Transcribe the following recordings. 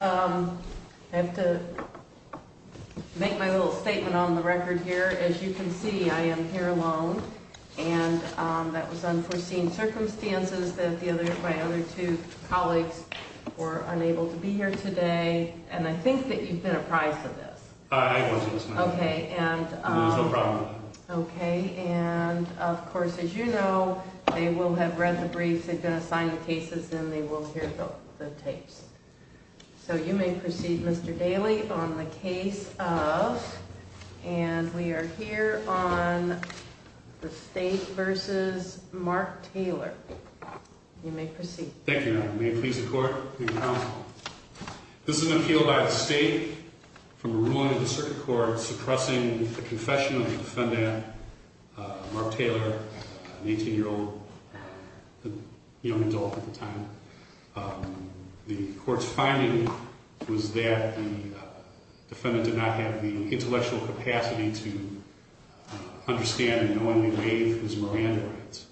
I have to make my little statement on the record here. As you can see, I am here alone. And that was unforeseen circumstances that the other, my other two colleagues were unable to be here today. And I think that you've been apprised of this. I wasn't. Okay. And There's no problem with that. Okay. And of course, as you know, they will have read the briefs, they've been assigning cases, and they will hear the tapes. So you may proceed, Mr. Daly, on the case of, and we are here on the State v. Mark Taylor. You may proceed. Thank you, Madam. May it please the Court and the Council. This is an appeal by the State from a ruling of the Circuit Court suppressing the confession of defendant Mark Taylor, an 18-year-old, a young adult at the time. The Court's finding was that the defendant did not have the intellectual capacity to understand and knowingly waive his Miranda rights.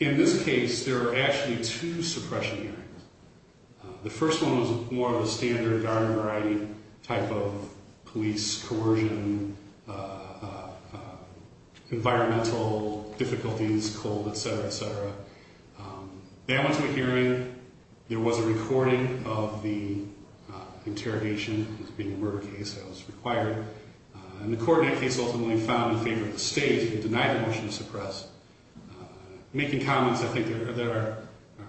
In this case, there are actually two suppression hearings. The first one was more of a standard garden variety type of police coercion, environmental difficulties, cold, et cetera, et cetera. They all went to a hearing. There was a recording of the interrogation. It was being a murder case, so it was required. And the court in that case ultimately found in favor of the State, who denied the motion to suppress, making comments I think that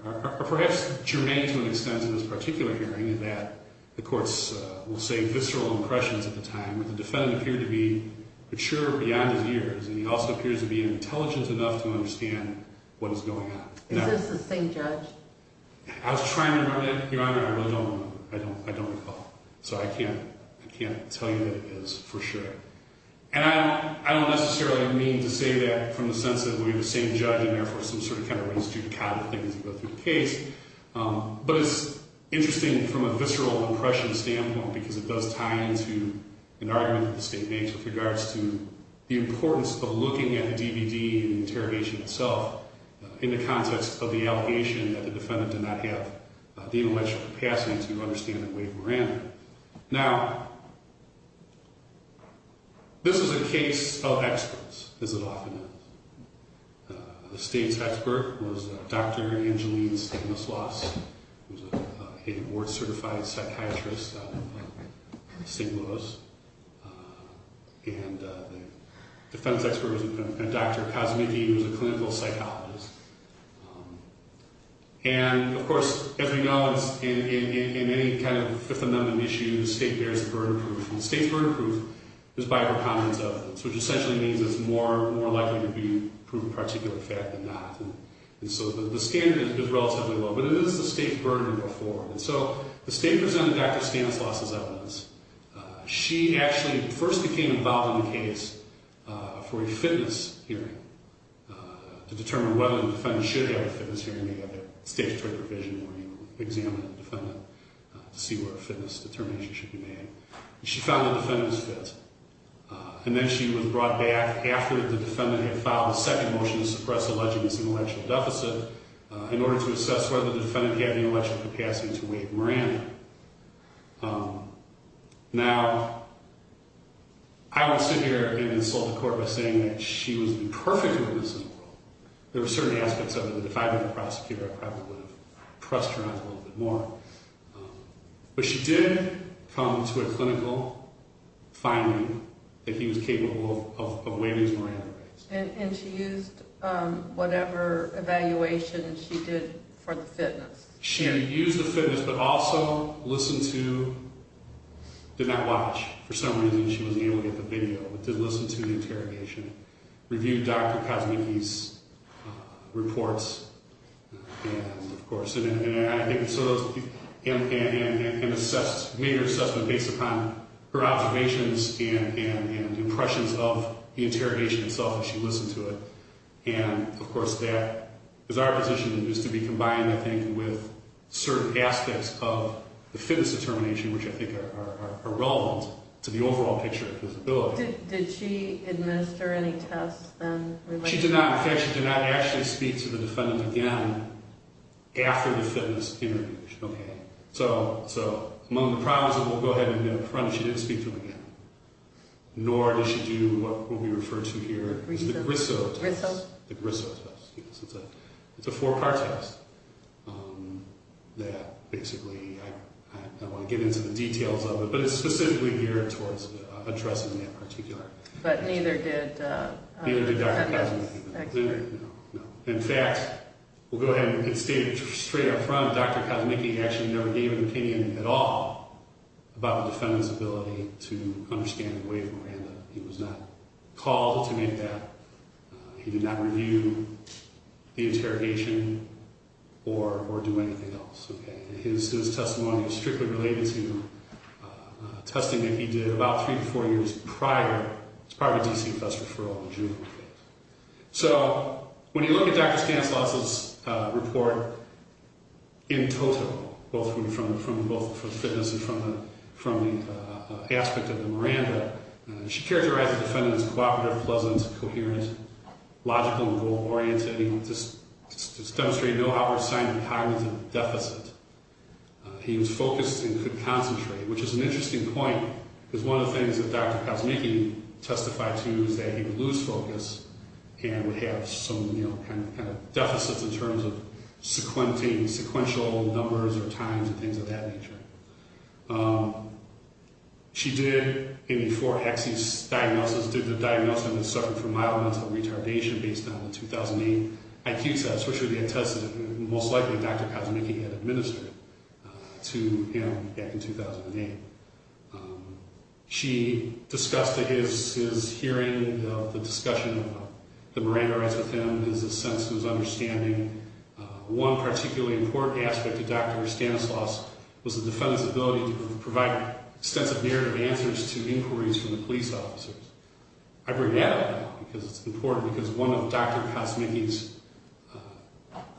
are perhaps germane to an extent in this particular hearing, that the courts will say visceral impressions at the time, but the defendant appeared to be mature beyond his years, and he also appears to be intelligent enough to understand what is going on. Is this the same judge? I was trying to remember that, Your Honor, but I don't recall. So I can't tell you that it is for sure. And I don't necessarily mean to say that from the sense that we have the same judge in there for some sort of kind of reason to cobble things as we go through the case, but it's interesting from a visceral impression standpoint because it does tie into an argument that the State makes with regards to the importance of looking at the DVD and the interrogation itself in the context of the allegation that the defendant did not have the intellectual capacity to understand and waive Miranda. Now, this is a case of experts, as it often is. The State's expert was Dr. Angeline Stanislaus, a board-certified psychiatrist out of St. Louis. And the defendant's expert was Dr. Kazimichi, who was a clinical psychologist. And, of course, as we know, in any kind of Fifth Amendment issue, the State bears the burden of proof. And the State's burden of proof is by her comments of it, which essentially means it's more likely to be a proven particular fact than not. And so the standard is relatively low, but it is the State's burden of proof. And so the State presented Dr. Stanislaus as evidence. She actually first became involved in the case for a fitness hearing to determine whether the defendant should have a fitness hearing. We have a statutory provision where you examine the defendant to see where a fitness determination should be made. She found that the defendant was fit. And then she was brought back after the defendant had filed a second motion to suppress the alleging this intellectual deficit in order to assess whether the defendant had the intellectual capacity to waive Miranda. Now, I won't sit here and insult the court by saying that she was the perfect witness in the world. There were certain aspects of it that if I had been a prosecutor, I probably would have pressed her on it a little bit more. But she did come to a clinical finding that he was capable of waiving his Miranda rights. And she used whatever evaluation she did for the fitness. She used the fitness, but also listened to, did not watch. For some reason, she was able to get the video, but did listen to the interrogation. Reviewed Dr. Kosmicki's reports, of course. And made her assessment based upon her observations and impressions of the interrogation itself as she listened to it. And, of course, that is our position. It needs to be combined, I think, with certain aspects of the fitness determination, which I think are relevant to the overall picture of disability. Did she administer any tests then? She did not. In fact, she did not actually speak to the defendant again after the fitness interview. Okay. So among the problems that we'll go ahead and get up front, she didn't speak to him again. Nor did she do what we refer to here as the Grisso test. The Grisso? The Grisso test, yes. It's a four-part test that basically, I don't want to get into the details of it, but it's specifically geared towards addressing that particular issue. But neither did Dr. Kosmicki. Neither did Dr. Kosmicki. No, no. In fact, we'll go ahead and state straight up front, Dr. Kosmicki actually never gave an opinion at all about the defendant's ability to understand and waive Miranda. He was not called to make that. He did not review the interrogation or do anything else. Okay. His testimony is strictly related to testing that he did about three to four years prior. It was probably a DC bus referral in June, I think. So when you look at Dr. Stanislaus's report in total, both from fitness and from the aspect of the Miranda, she characterized the defendant as cooperative, pleasant, coherent, logical and goal-oriented. He demonstrated no outward sign of cognitive deficit. He was focused and could concentrate, which is an interesting point because one of the things that Dr. Kosmicki testified to is that he would lose focus and would have some kind of deficits in terms of sequential numbers or times and things of that nature. She did a four axis diagnosis, did the diagnosis and then suffered from mild mental retardation based on the 2008 IQ test, which would be a test that most likely Dr. Kosmicki had administered to him back in 2008. She discussed his hearing of the discussion of the Miranda rights with him, his sense and his understanding. One particularly important aspect of Dr. Stanislaus was the defendant's ability to provide extensive narrative answers to inquiries from the police officers. I bring that up because it's important because one of Dr. Kosmicki's,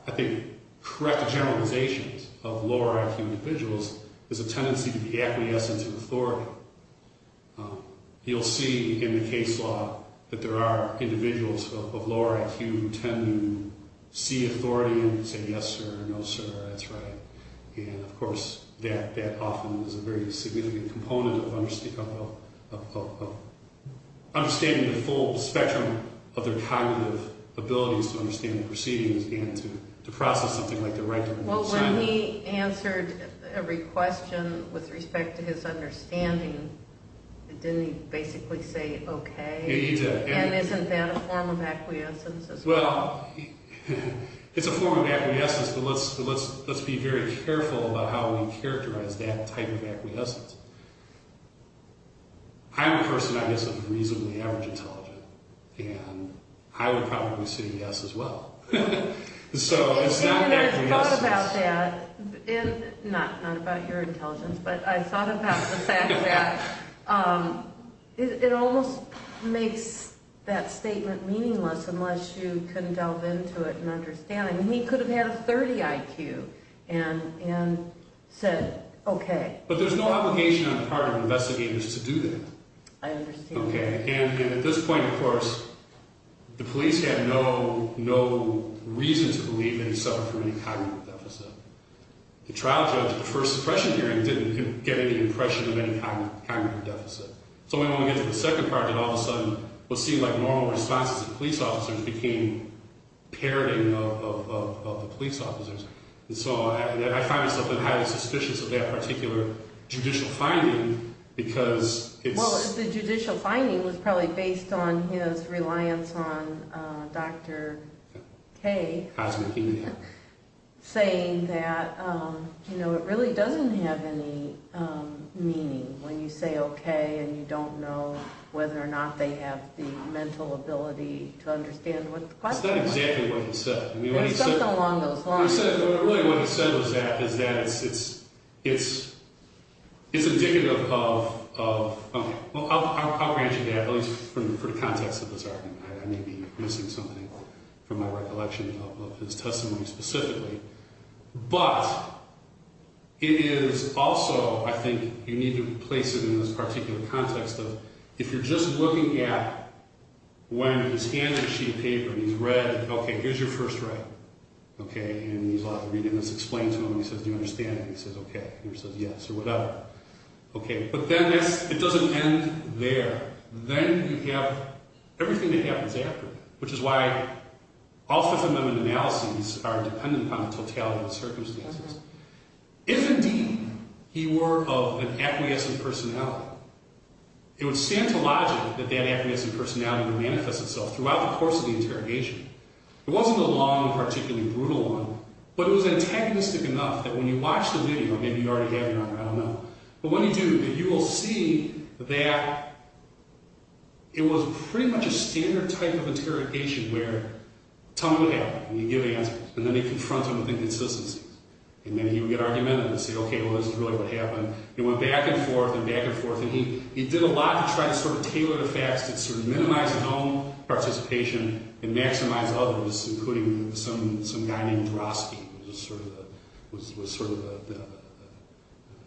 I think, correct generalizations of lower IQ individuals is a tendency to be acquiescent to authority. You'll see in the case law that there are individuals of lower IQ who tend to see authority and say yes, sir, no, sir, that's right. Of course, that often is a very significant component of understanding the full spectrum of their cognitive abilities to understand the proceedings and to process something like the right to decide. Well, when he answered every question with respect to his understanding, didn't he basically say okay? Yeah, he did. And isn't that a form of acquiescence as well? Well, it's a form of acquiescence, but let's be very careful about how we characterize that type of acquiescence. I'm a person, I guess, of reasonably average intelligence, and I would probably say yes as well. And I thought about that, not about your intelligence, but I thought about the fact that it almost makes that statement meaningless unless you can delve into it and understand it. He could have had a 30 IQ and said okay. But there's no obligation on the part of investigators to do that. I understand. Okay. And at this point, of course, the police had no reason to believe that he suffered from any cognitive deficit. The trial judge at the first suppression hearing didn't get any impression of any cognitive deficit. So then when we get to the second project, all of a sudden what seemed like normal responses of police officers became parroting of the police officers. And so I find myself highly suspicious of that particular judicial finding because it's... Well, the judicial finding was probably based on his reliance on Dr. K. Cosmikin. Saying that it really doesn't have any meaning when you say okay and you don't know whether or not they have the mental ability to understand what the question was. That's not exactly what he said. Something along those lines. What he said was that it's indicative of... I'll grant you that, at least for the context of this argument. I may be missing something from my recollection of his testimony specifically. But it is also, I think, you need to place it in this particular context of if you're just looking at when his handwriting sheet of paper, when he's read, okay, here's your first right. And he's allowed to read it and it's explained to him. He says, do you understand? And he says, okay. And he says, yes, or whatever. But then it doesn't end there. Then you have everything that happens after, which is why all Fifth Amendment analyses are dependent on the totality of circumstances. If indeed he were of an acquiescent personality, it would stand to logic that that acquiescent personality would manifest itself throughout the course of the interrogation. It wasn't a long and particularly brutal one, but it was antagonistic enough that when you watch the video, maybe you already have your own, I don't know. But when you do, you will see that it was pretty much a standard type of interrogation where tell me what happened. And he'd give answers. And then he'd confront him with inconsistencies. And then he would get argumentative and say, okay, well, this is really what happened. It went back and forth and back and forth. And he did a lot to try to sort of tailor the facts to sort of minimize his own participation and maximize others, including some guy named Drosky, who was sort of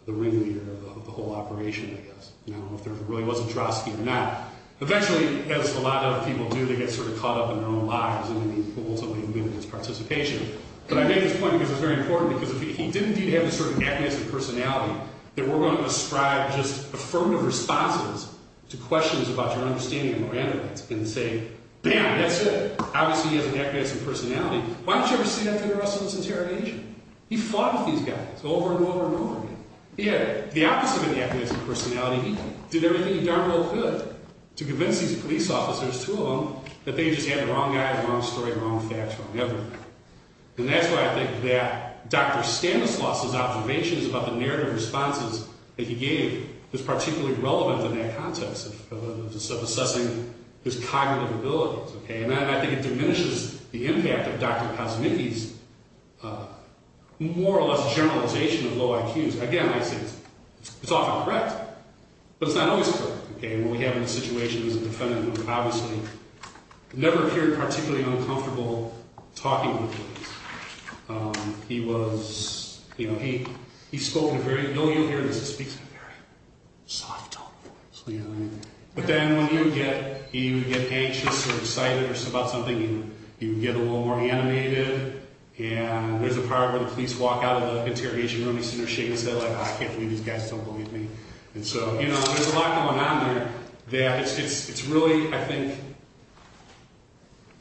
the ringleader of the whole operation, I guess. I don't know if there really was a Drosky or not. Eventually, as a lot of people do, they get sort of caught up in their own lives and then he ultimately loses participation. But I make this point because it's very important, because if he did indeed have this sort of agnostic personality, that we're going to describe just affirmative responses to questions about your understanding of Miranda rights and say, bam, that's it. Obviously, he has an agnostic personality. Why don't you ever say that to the rest of us interrogation? He fought with these guys over and over and over again. He had the opposite of an agnostic personality. He did everything he darn well could to convince these police officers, two of them, that they just had the wrong guys, wrong story, wrong facts, wrong everything. And that's why I think that Dr. Stanislaus' observations about the narrative responses that he gave is particularly relevant in that context of assessing his cognitive abilities. And I think it diminishes the impact of Dr. Kosmicki's more or less generalization of low IQs. Again, I say it's often correct, but it's not always correct. What we have in this situation is a defendant who obviously never appeared particularly uncomfortable talking to the police. He was, you know, he spoke in a very, you'll hear this, he speaks in a very soft tone of voice. But then when he would get anxious or excited about something, he would get a little more animated. And there's a part where the police walk out of the interrogation room, he's sitting there shaking his head like, I can't believe these guys don't believe me. And so, you know, there's a lot going on there that it's really, I think,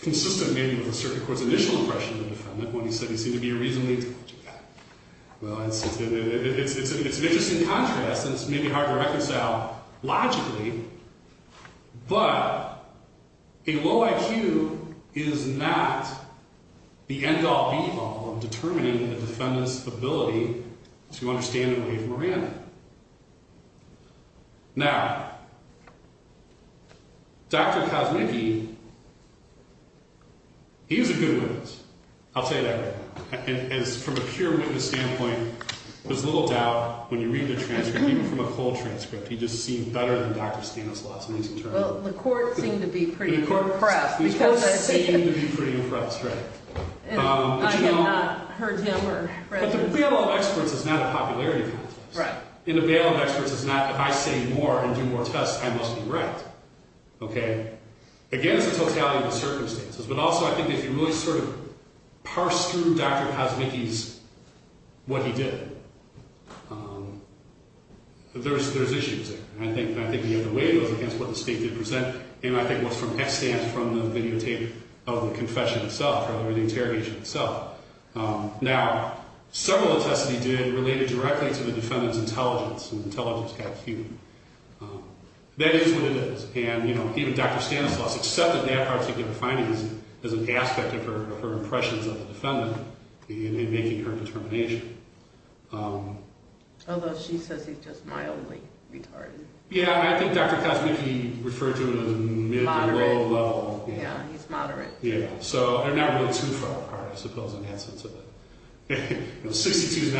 consistent maybe with the circuit court's initial impression of the defendant when he said he seemed to be a reasonably intelligent guy. Well, it's an interesting contrast and it's maybe hard to reconcile logically, but a low IQ is not the end-all, be-all of determining the defendant's ability to understand and believe Moran. Now, Dr. Kosmicki, he was a good witness. I'll tell you that right now. From a pure witness standpoint, there's little doubt when you read the transcript, even from a whole transcript, he just seemed better than Dr. Stanislaus in these interrogations. Well, the court seemed to be pretty impressed. The court seemed to be pretty impressed, right. I had not heard him or read the transcript. The bail of experts is not a popularity contest. Right. And the bail of experts is not if I say more and do more tests, I must be right. Okay. Again, it's a totality of the circumstances. But also, I think if you really sort of parse through Dr. Kosmicki's, what he did, there's issues there. I think the other way was against what the state did present, and I think it was from a stance from the videotape of the confession itself, or the interrogation itself. Now, several of the tests that he did related directly to the defendant's intelligence and intelligence IQ. That is what it is. And even Dr. Stanislaus accepted that particular finding as an aspect of her impressions of the defendant in making her determination. Although she says he's just mildly retarded. Yeah, I think Dr. Kosmicki referred to him as a mid- or low-level. Moderate. Yeah, he's moderate. Yeah, so they're not really too far apart, I suppose, in that sense of it. 62 is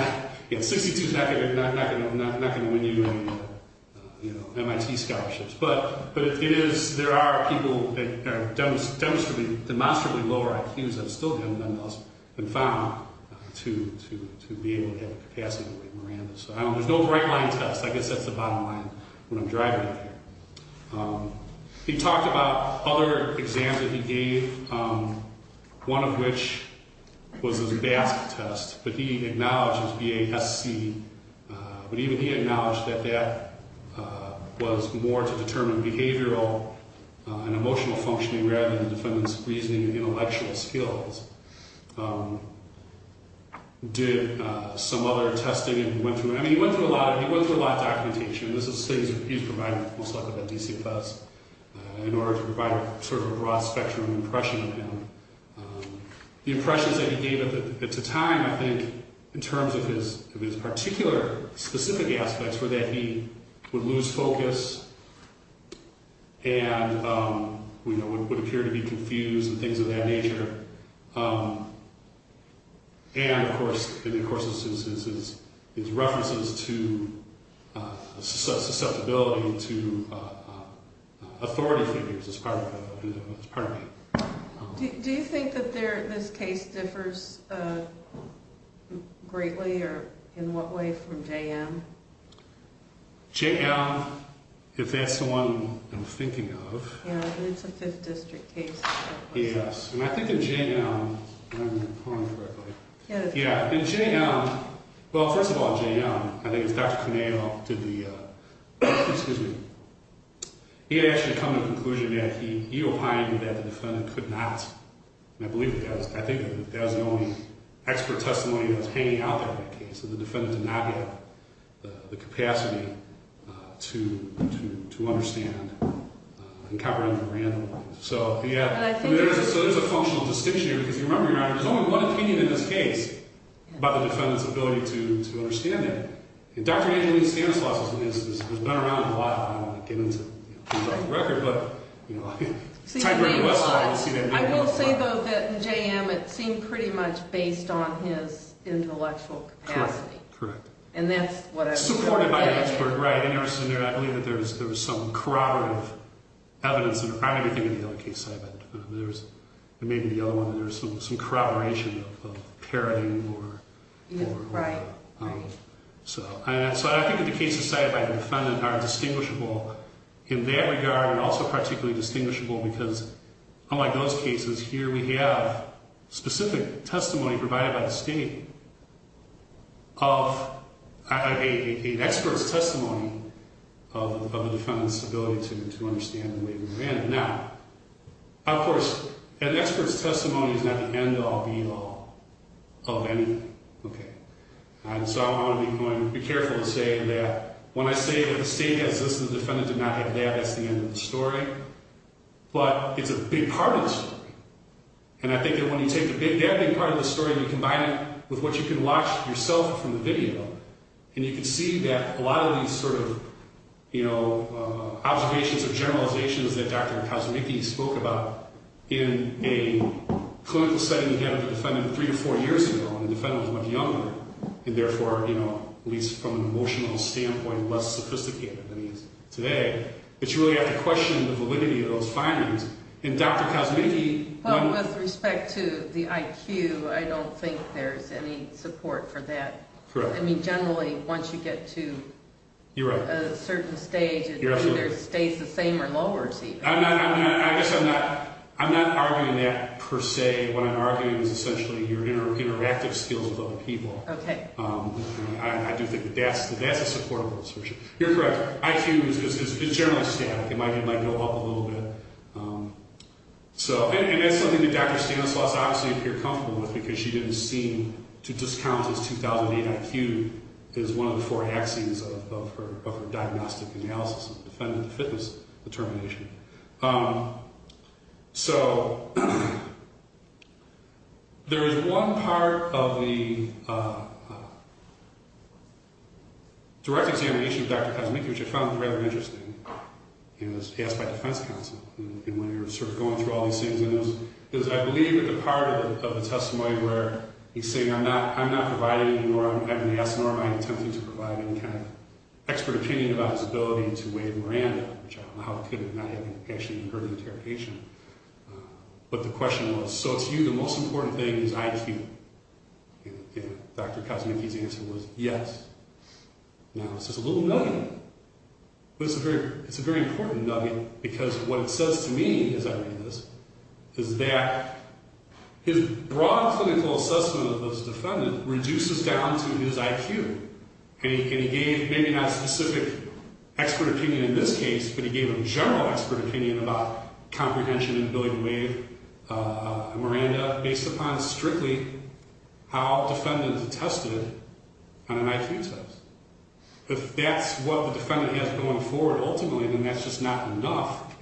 not going to win you any more MIT scholarships. But there are people that are demonstrably lower IQs that have still been found to be able to have a capacity to weigh Miranda. So there's no bright-line test. I guess that's the bottom line when I'm driving out here. He talked about other exams that he gave, one of which was his BASC test. But he acknowledged it was B-A-S-C. But even he acknowledged that that was more to determine behavioral and emotional functioning rather than the defendant's reasoning and intellectual skills. Did some other testing and went through it. I mean, he went through a lot of documentation. This is things that he's provided most likely by DCFS in order to provide sort of a broad-spectrum impression of him. The impressions that he gave of him at the time, I think, in terms of his particular specific aspects were that he would lose focus and would appear to be confused and things of that nature. And, of course, his references to susceptibility to authority figures is part of it. Do you think that this case differs greatly or in what way from JM? JM, if that's the one I'm thinking of. Yeah, it's a 5th District case. Yes, and I think that JM, well, first of all, JM, I think it's Dr. Conejo, did the, excuse me, he had actually come to the conclusion that he opined that the defendant could not, and I believe that was, I think that was the only expert testimony that was hanging out there in that case, that the defendant did not have the capacity to understand and cover in a random way. So, yeah, so there's a functional distinction here because, if you remember, there's only one opinion in this case about the defendant's ability to understand that. And Dr. Angelina Stanislaus has been around a lot, I don't want to get into who's on the record, but, you know, the type of whistleblower you see that day. I will say, though, that in JM it seemed pretty much based on his intellectual capacity. Correct, correct. And that's what I would say. Supported by the expert, right. I believe that there was some corroborative evidence, and I'm going to think of the other case cited by the defendant, there was maybe the other one, there was some corroboration of parroting or... Right, right. So I think that the cases cited by the defendant are distinguishable in that regard and also particularly distinguishable because, unlike those cases, here we have specific testimony provided by the state of an expert's testimony of a defendant's ability to understand the way we were handed. Now, of course, an expert's testimony is not the end all, be all of anything. Okay. And so I want to be careful to say that when I say that the state has this and the defendant did not have that, that's the end of the story. But it's a big part of the story. And I think that when you take that big part of the story and you combine it with what you can watch yourself from the video, and you can see that a lot of these sort of observations or generalizations that Dr. Kazimichi spoke about in a clinical setting he had with the defendant three or four years ago when the defendant was much younger and therefore, at least from an emotional standpoint, less sophisticated than he is today, that you really have to question the validity of those findings. And Dr. Kazimichi... Well, with respect to the IQ, I don't think there's any support for that. Correct. I mean, generally, once you get to... You're right. ...a certain stage, it either stays the same or lowers even. I guess I'm not arguing that per se. What I'm arguing is essentially your interactive skills with other people. Okay. I do think that that's a supportable assertion. You're correct. IQ is generally static. It might go up a little bit. And that's something that Dr. Stanislaus obviously appeared comfortable with because she didn't seem to discount his 2008 IQ as one of the four axioms of her diagnostic analysis of defendant fitness determination. So, there is one part of the direct examination of Dr. Kazimichi, which I found rather interesting. He was asked by defense counsel when he was sort of going through all these things. And it was, I believe, at the part of the testimony where he's saying, I'm not providing you nor I'm having to ask nor am I intending to provide any kind of expert opinion about his ability to waive Miranda, which I don't know how he could have not actually heard the interrogation. But the question was, so to you the most important thing is IQ? And Dr. Kazimichi's answer was yes. Now, this is a little nugget. But it's a very important nugget because what it says to me as I read this is that his broad clinical assessment of this defendant reduces down to his IQ. And he gave maybe not specific expert opinion in this case, but he gave a general expert opinion about comprehension and ability to waive Miranda based upon strictly how defendants attested on an IQ test. If that's what the defendant has going forward ultimately, then that's just not enough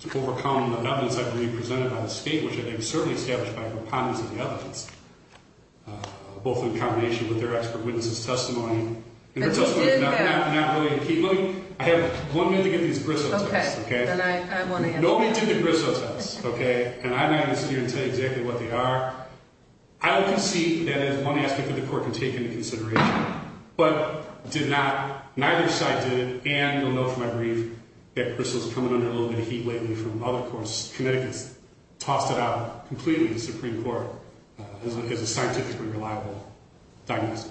to overcome the evidence I've already presented on the state, which I think is certainly established by repondents of the evidence, both in combination with their expert witnesses' testimony. And their testimony is not really key. Let me – I have one minute to get these Bristow tests, okay? Okay, then I want to answer. Nobody did the Bristow tests, okay? And I'm not going to sit here and tell you exactly what they are. I would concede that is one aspect that the court can take into consideration, but did not – neither side did it, and you'll know from my brief that Bristow's coming under a little bit of heat lately from other courts. Connecticut's tossed it out completely to the Supreme Court as a scientifically reliable diagnosis.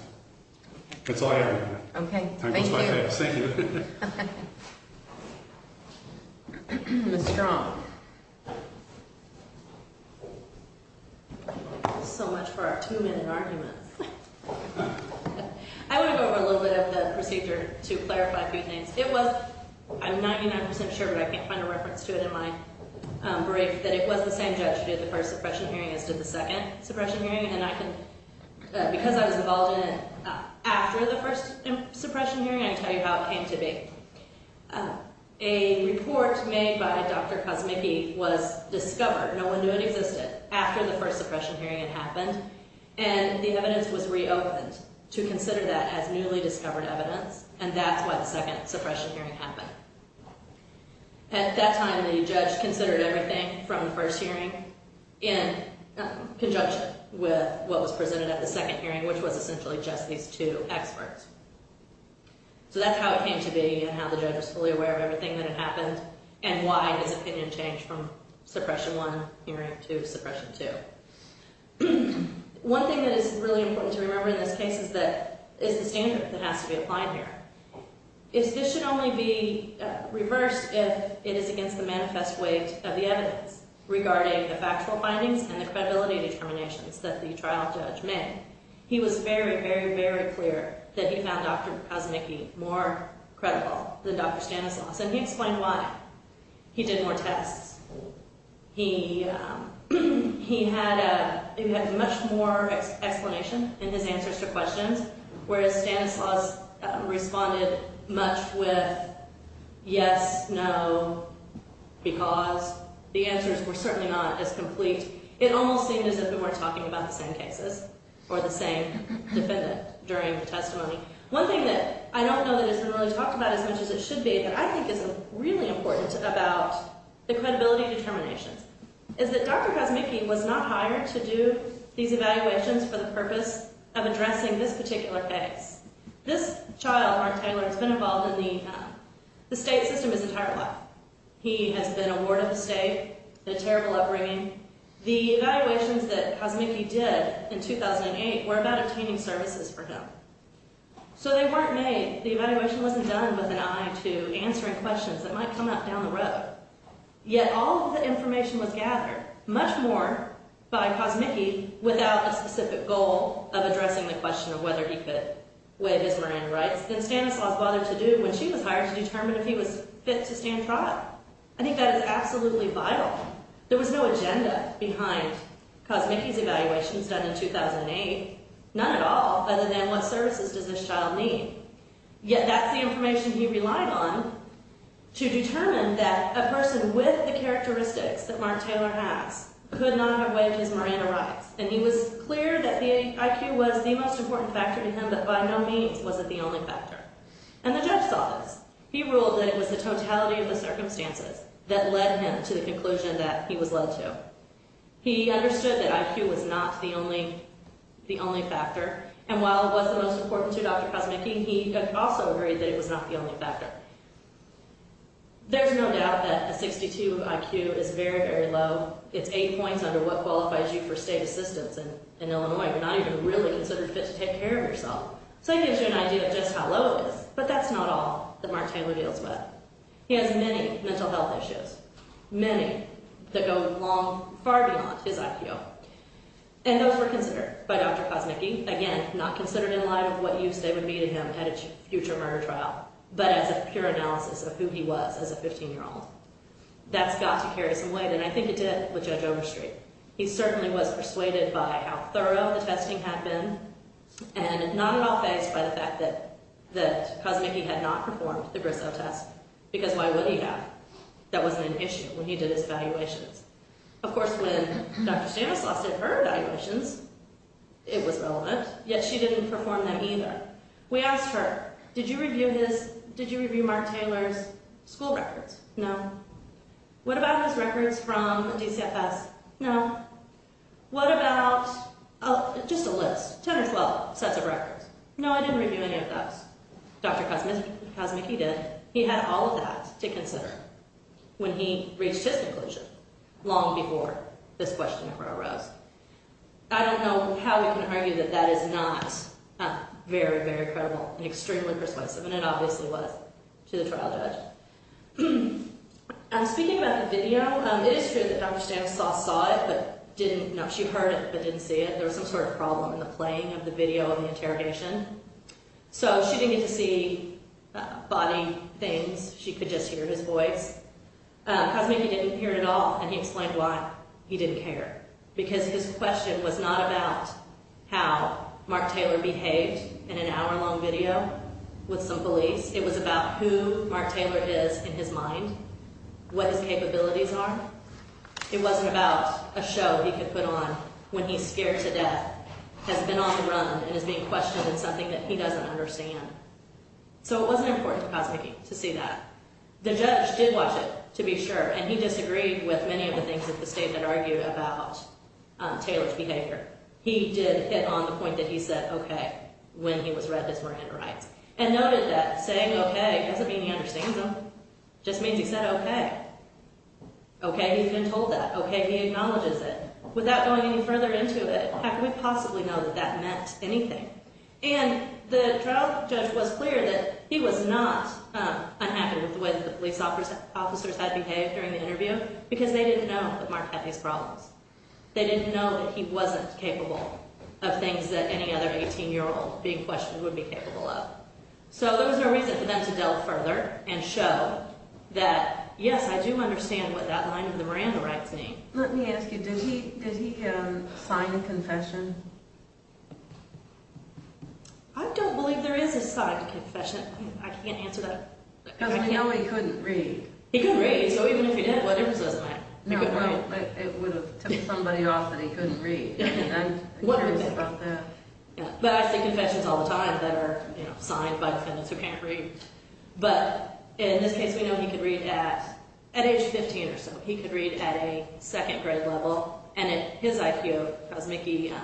That's all I have on that. Okay, thank you. Thank you. Ms. Strong. So much for our two-minute argument. I'm 99% sure, but I can't find a reference to it in my brief, that it was the same judge who did the first suppression hearing as did the second suppression hearing, and I can – because I was involved in it after the first suppression hearing, I can tell you how it came to be. A report made by Dr. Kosmicki was discovered – no one knew it existed – after the first suppression hearing had happened, and the evidence was reopened to consider that as newly discovered evidence, and that's why the second suppression hearing happened. At that time, the judge considered everything from the first hearing in conjunction with what was presented at the second hearing, which was essentially just these two experts. So that's how it came to be and how the judge was fully aware of everything that had happened and why his opinion changed from suppression one hearing to suppression two. One thing that is really important to remember in this case is that this is the standard that has to be applied here. This should only be reversed if it is against the manifest weight of the evidence regarding the factual findings and the credibility determinations that the trial judge made. He was very, very, very clear that he found Dr. Kosmicki more credible than Dr. Stanislaus, and he explained why. He did more tests. He had much more explanation in his answers to questions, whereas Stanislaus responded much with yes, no, because. The answers were certainly not as complete. It almost seemed as if they were talking about the same cases or the same defendant during the testimony. One thing that I don't know that has been really talked about as much as it should be and I think is really important about the credibility determinations is that Dr. Kosmicki was not hired to do these evaluations for the purpose of addressing this particular case. This child, Mark Taylor, has been involved in the state system his entire life. He has been a ward of the state, had a terrible upbringing. The evaluations that Kosmicki did in 2008 were about obtaining services for him. So they weren't made. The evaluation wasn't done with an eye to answering questions that might come up down the road, yet all of the information was gathered, much more by Kosmicki without a specific goal of addressing the question of whether he fit with his marine rights than Stanislaus bothered to do when she was hired to determine if he was fit to stand trial. I think that is absolutely vital. There was no agenda behind Kosmicki's evaluations done in 2008, none at all other than what services does this child need. Yet that's the information he relied on to determine that a person with the characteristics that Mark Taylor has could not have waived his marine rights and he was clear that the IQ was the most important factor to him but by no means was it the only factor. And the judge saw this. He ruled that it was the totality of the circumstances that led him to the conclusion that he was led to. He understood that IQ was not the only factor. And while it was the most important to Dr. Kosmicki, he also agreed that it was not the only factor. There's no doubt that a 62 IQ is very, very low. It's eight points under what qualifies you for state assistance in Illinois. You're not even really considered fit to take care of yourself. So it gives you an idea of just how low it is. But that's not all that Mark Taylor deals with. He has many mental health issues, many that go far beyond his IQ. And those were considered by Dr. Kosmicki. Again, not considered in light of what use they would be to him at a future murder trial but as a pure analysis of who he was as a 15-year-old. That's got to carry some weight, and I think it did with Judge Overstreet. He certainly was persuaded by how thorough the testing had been and not at all fazed by the fact that Kosmicki had not performed the Bristow test because why would he have? That wasn't an issue when he did his evaluations. Of course, when Dr. Stanislaus did her evaluations, it was relevant, yet she didn't perform them either. We asked her, did you review Mark Taylor's school records? No. What about his records from DCFS? No. What about just a list, 10 or 12 sets of records? No, I didn't review any of those. Dr. Kosmicki did. He had all of that to consider when he reached his conclusion long before this question ever arose. I don't know how we can argue that that is not very, very credible and extremely persuasive, and it obviously was to the trial judge. Speaking about the video, it is true that Dr. Stanislaus saw it but didn't know. She heard it but didn't see it. There was some sort of problem in the playing of the video and the interrogation. She didn't get to see body things. She could just hear his voice. Kosmicki didn't hear it at all, and he explained why he didn't care because his question was not about how Mark Taylor behaved in an hour-long video with some police. It was about who Mark Taylor is in his mind, what his capabilities are. It wasn't about a show he could put on when he's scared to death, has been on the run, and is being questioned in something that he doesn't understand. So it wasn't important to Kosmicki to see that. The judge did watch it, to be sure, and he disagreed with many of the things that the statement argued about Taylor's behavior. He did hit on the point that he said okay when he was read his Miranda rights and noted that saying okay doesn't mean he understands them. It just means he said okay. Okay, he's been told that. Okay, he acknowledges it. Without going any further into it, how could we possibly know that that meant anything? And the trial judge was clear that he was not unhappy with the way the police officers had behaved during the interview because they didn't know that Mark had these problems. They didn't know that he wasn't capable of things that any other 18-year-old being questioned would be capable of. So there was no reason for them to delve further and show that yes, I do understand what that line in the Miranda rights means. Let me ask you, did he sign a confession? I don't believe there is a signed confession. I can't answer that. Because we know he couldn't read. He couldn't read. So even if he did, what difference does it make? It would have tipped somebody off that he couldn't read. I'm curious about that. But I see confessions all the time that are signed by defendants who can't read. But in this case we know he could read at age 15 or so. He could read at a second grade level. And his IQ, as Mickey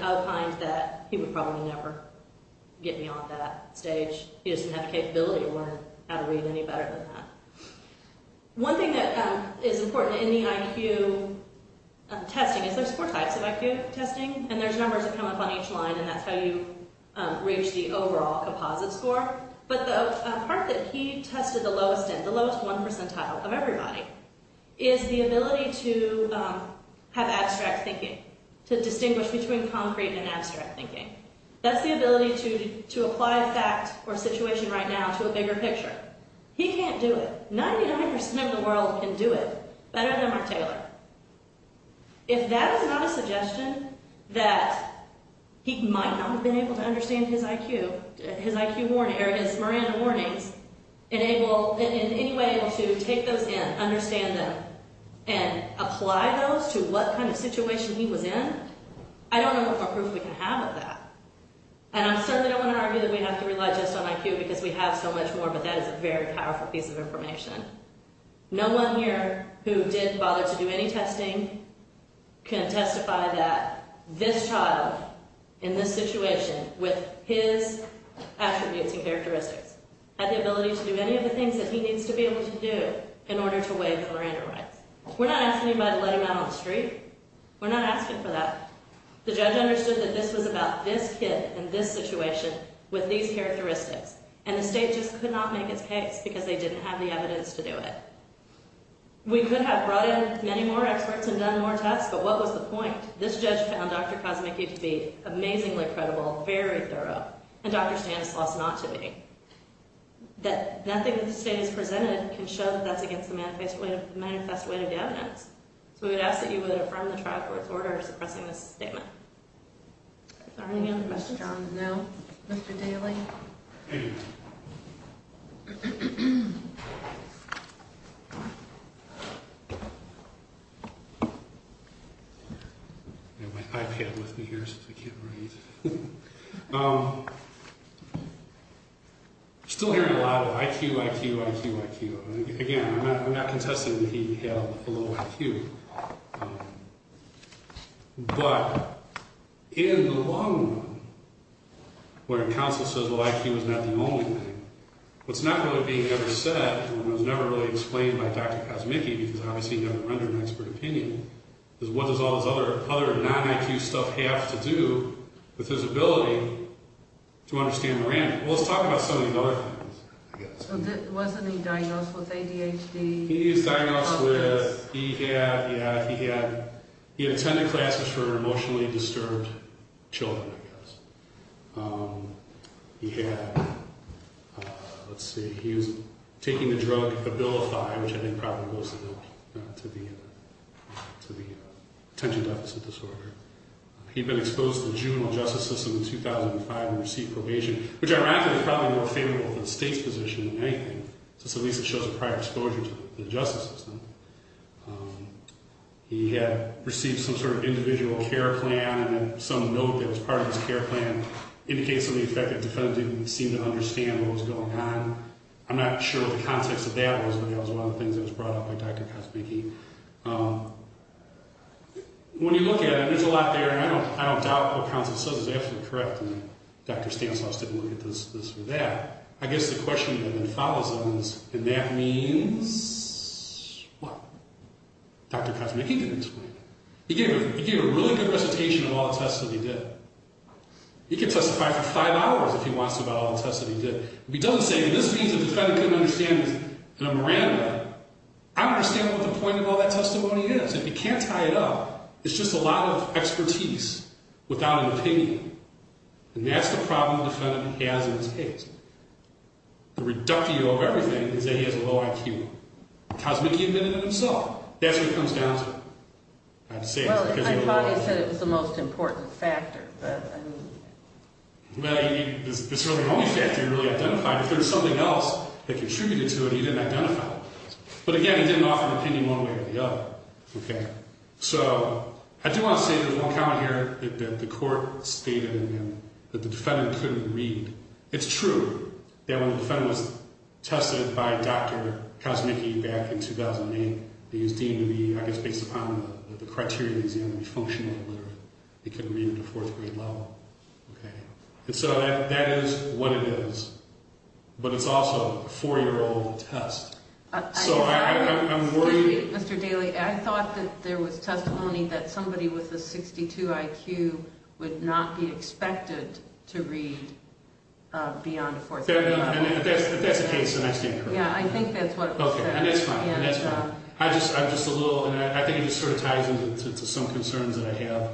outlined, that he would probably never get beyond that stage. He doesn't have the capability to learn how to read any better than that. One thing that is important in the IQ testing is there's four types of IQ testing. And there's numbers that come up on each line. And that's how you reach the overall composite score. But the part that he tested the lowest in, the lowest one percentile of everybody, is the ability to have abstract thinking, to distinguish between concrete and abstract thinking. That's the ability to apply fact or situation right now to a bigger picture. He can't do it. 99% of the world can do it better than Mark Taylor. If that is not a suggestion that he might not have been able to understand his IQ, his Miranda warnings, in any way able to take those in, understand them, and apply those to what kind of situation he was in, I don't know what more proof we can have of that. And I certainly don't want to argue that we have to rely just on IQ because we have so much more, but that is a very powerful piece of information. No one here who didn't bother to do any testing can testify that this child in this situation with his attributes and characteristics had the ability to do any of the things that he needs to be able to do in order to waive the Miranda rights. We're not asking anybody to let him out on the street. We're not asking for that. The judge understood that this was about this kid in this situation with these characteristics, and the state just could not make its case because they didn't have the evidence to do it. We could have brought in many more experts and done more tests, but what was the point? This judge found Dr. Kosmicki to be amazingly credible, very thorough, and Dr. Stanislaus not to be. That nothing that the state has presented can show that that's against the manifest weight of the evidence. So we would ask that you would affirm the trial court's order suppressing this statement. Is there any other message I want to know, Mr. Daly? I have my iPad with me here, so I can't read. Still hearing a lot of IQ, IQ, IQ, IQ. Again, I'm not contesting that he had a low IQ. But in the long run, where counsel says IQ is not the only thing, what's not really being ever said, and what was never really explained by Dr. Kosmicki, because obviously he never rendered an expert opinion, is what does all this other non-IQ stuff have to do with his ability to understand Miranda? Well, let's talk about some of these other things. Wasn't he diagnosed with ADHD? He was diagnosed with, yeah, he had attended classes for emotionally disturbed children, I guess. He had, let's see, he was taking the drug Abilify, which I think probably goes to the attention deficit disorder. He'd been exposed to the juvenile justice system in 2005 and received probation, which ironically is probably more favorable for the state's position than anything, since at least it shows a prior exposure to the justice system. He had received some sort of individual care plan, and then some note that was part of his care plan indicates to me the fact that the defendant didn't seem to understand what was going on. I'm not sure what the context of that was, but that was one of the things that was brought up by Dr. Kosmicki. When you look at it, there's a lot there, and I don't doubt what counsel says is absolutely correct, and Dr. Stanislaus didn't look at this for that. I guess the question then follows on, and that means what? Dr. Kosmicki didn't explain it. He gave a really good recitation of all the tests that he did. He could testify for five hours if he wants to about all the tests that he did. If he doesn't say, well, this means the defendant couldn't understand it in a Miranda way, I don't understand what the point of all that testimony is, and you can't tie it up. It's just a lot of expertise without an opinion, and that's the problem the defendant has in this case. The reductio of everything is that he has a low IQ. Kosmicki admitted it himself. That's what it comes down to. I'd say it's because he had a low IQ. Well, I thought he said it was the most important factor, but I mean... Well, it's really the only factor he really identified. If there's something else that contributed to it, he didn't identify it. But again, he didn't offer an opinion one way or the other, okay? So I do want to say there's one comment here that the court stated in him that the defendant couldn't read. It's true that when the defendant was tested by Dr. Kosmicki back in 2008, he was deemed to be, I guess, based upon the criteria he was deemed to be functional, but he couldn't read at a fourth-grade level, okay? And so that is what it is, but it's also a four-year-old test. So I'm worried... Excuse me, Mr. Daley. I thought that there was testimony that somebody with a 62 IQ would not be expected to read beyond a fourth-grade level. That's the case, and I stand corrected. Yeah, I think that's what it was said. Okay, and that's fine. And that's fine. I'm just a little... And I think it just sort of ties into some concerns that I have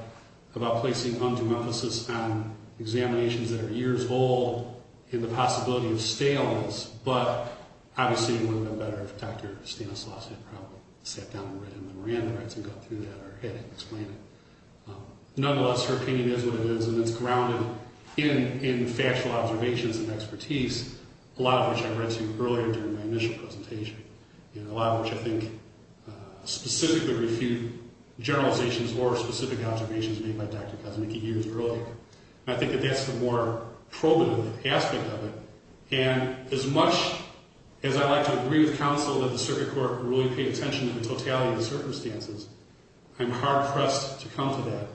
about placing undue emphasis on examinations that are years old and the possibility of staleness, but obviously it would have been better if Dr. Stanislaus had probably sat down and read him the Miranda rights and got through that or had him explain it. Nonetheless, her opinion is what it is, and it's grounded in factual observations and expertise, a lot of which I read to you earlier during my initial presentation, and a lot of which I think specifically refute generalizations or specific observations made by Dr. Kosmicki years earlier. And I think that that's the more probative aspect of it. And as much as I like to agree with counsel that the circuit court really paid attention to the totality of the circumstances, I'm hard-pressed to come to that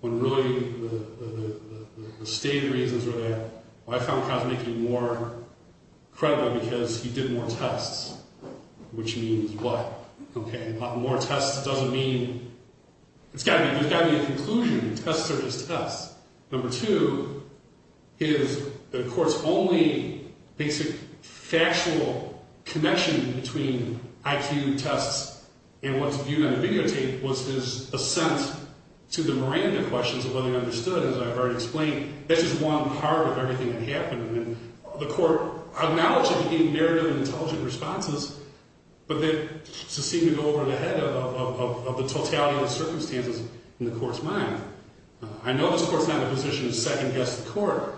when really the stated reasons are that I found Kosmicki more credible because he did more tests, which means what? Okay, more tests doesn't mean... There's got to be a conclusion. Tests are just tests. Number two, the court's only basic factual connection between IQ tests and what's viewed on videotape was his assent to the Miranda questions of whether he understood, as I've already explained. That's just one part of everything that happened. And the court acknowledged that there were narrative and intelligent responses, but they seem to go over the head of the totality of the circumstances in the court's mind. I know this court's not in a position to second-guess the court,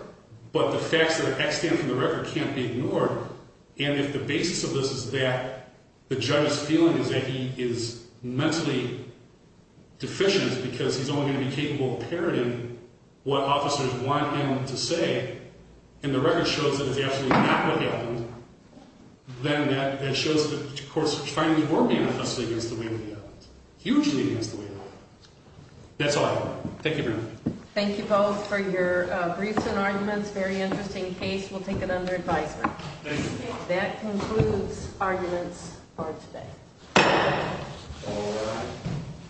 but the facts that are extant from the record can't be ignored. And if the basis of this is that the judge's feeling is that he is mentally deficient because he's only going to be capable of parroting what officers want him to say, and the record shows that it's absolutely not what happened, then that shows that, of course, finally, we're being tested against the will of the evidence. Hugely against the will of the evidence. That's all I have. Thank you very much. Thank you both for your briefs and arguments. Very interesting case. We'll take it under advisement. Thank you. That concludes arguments for today. All right.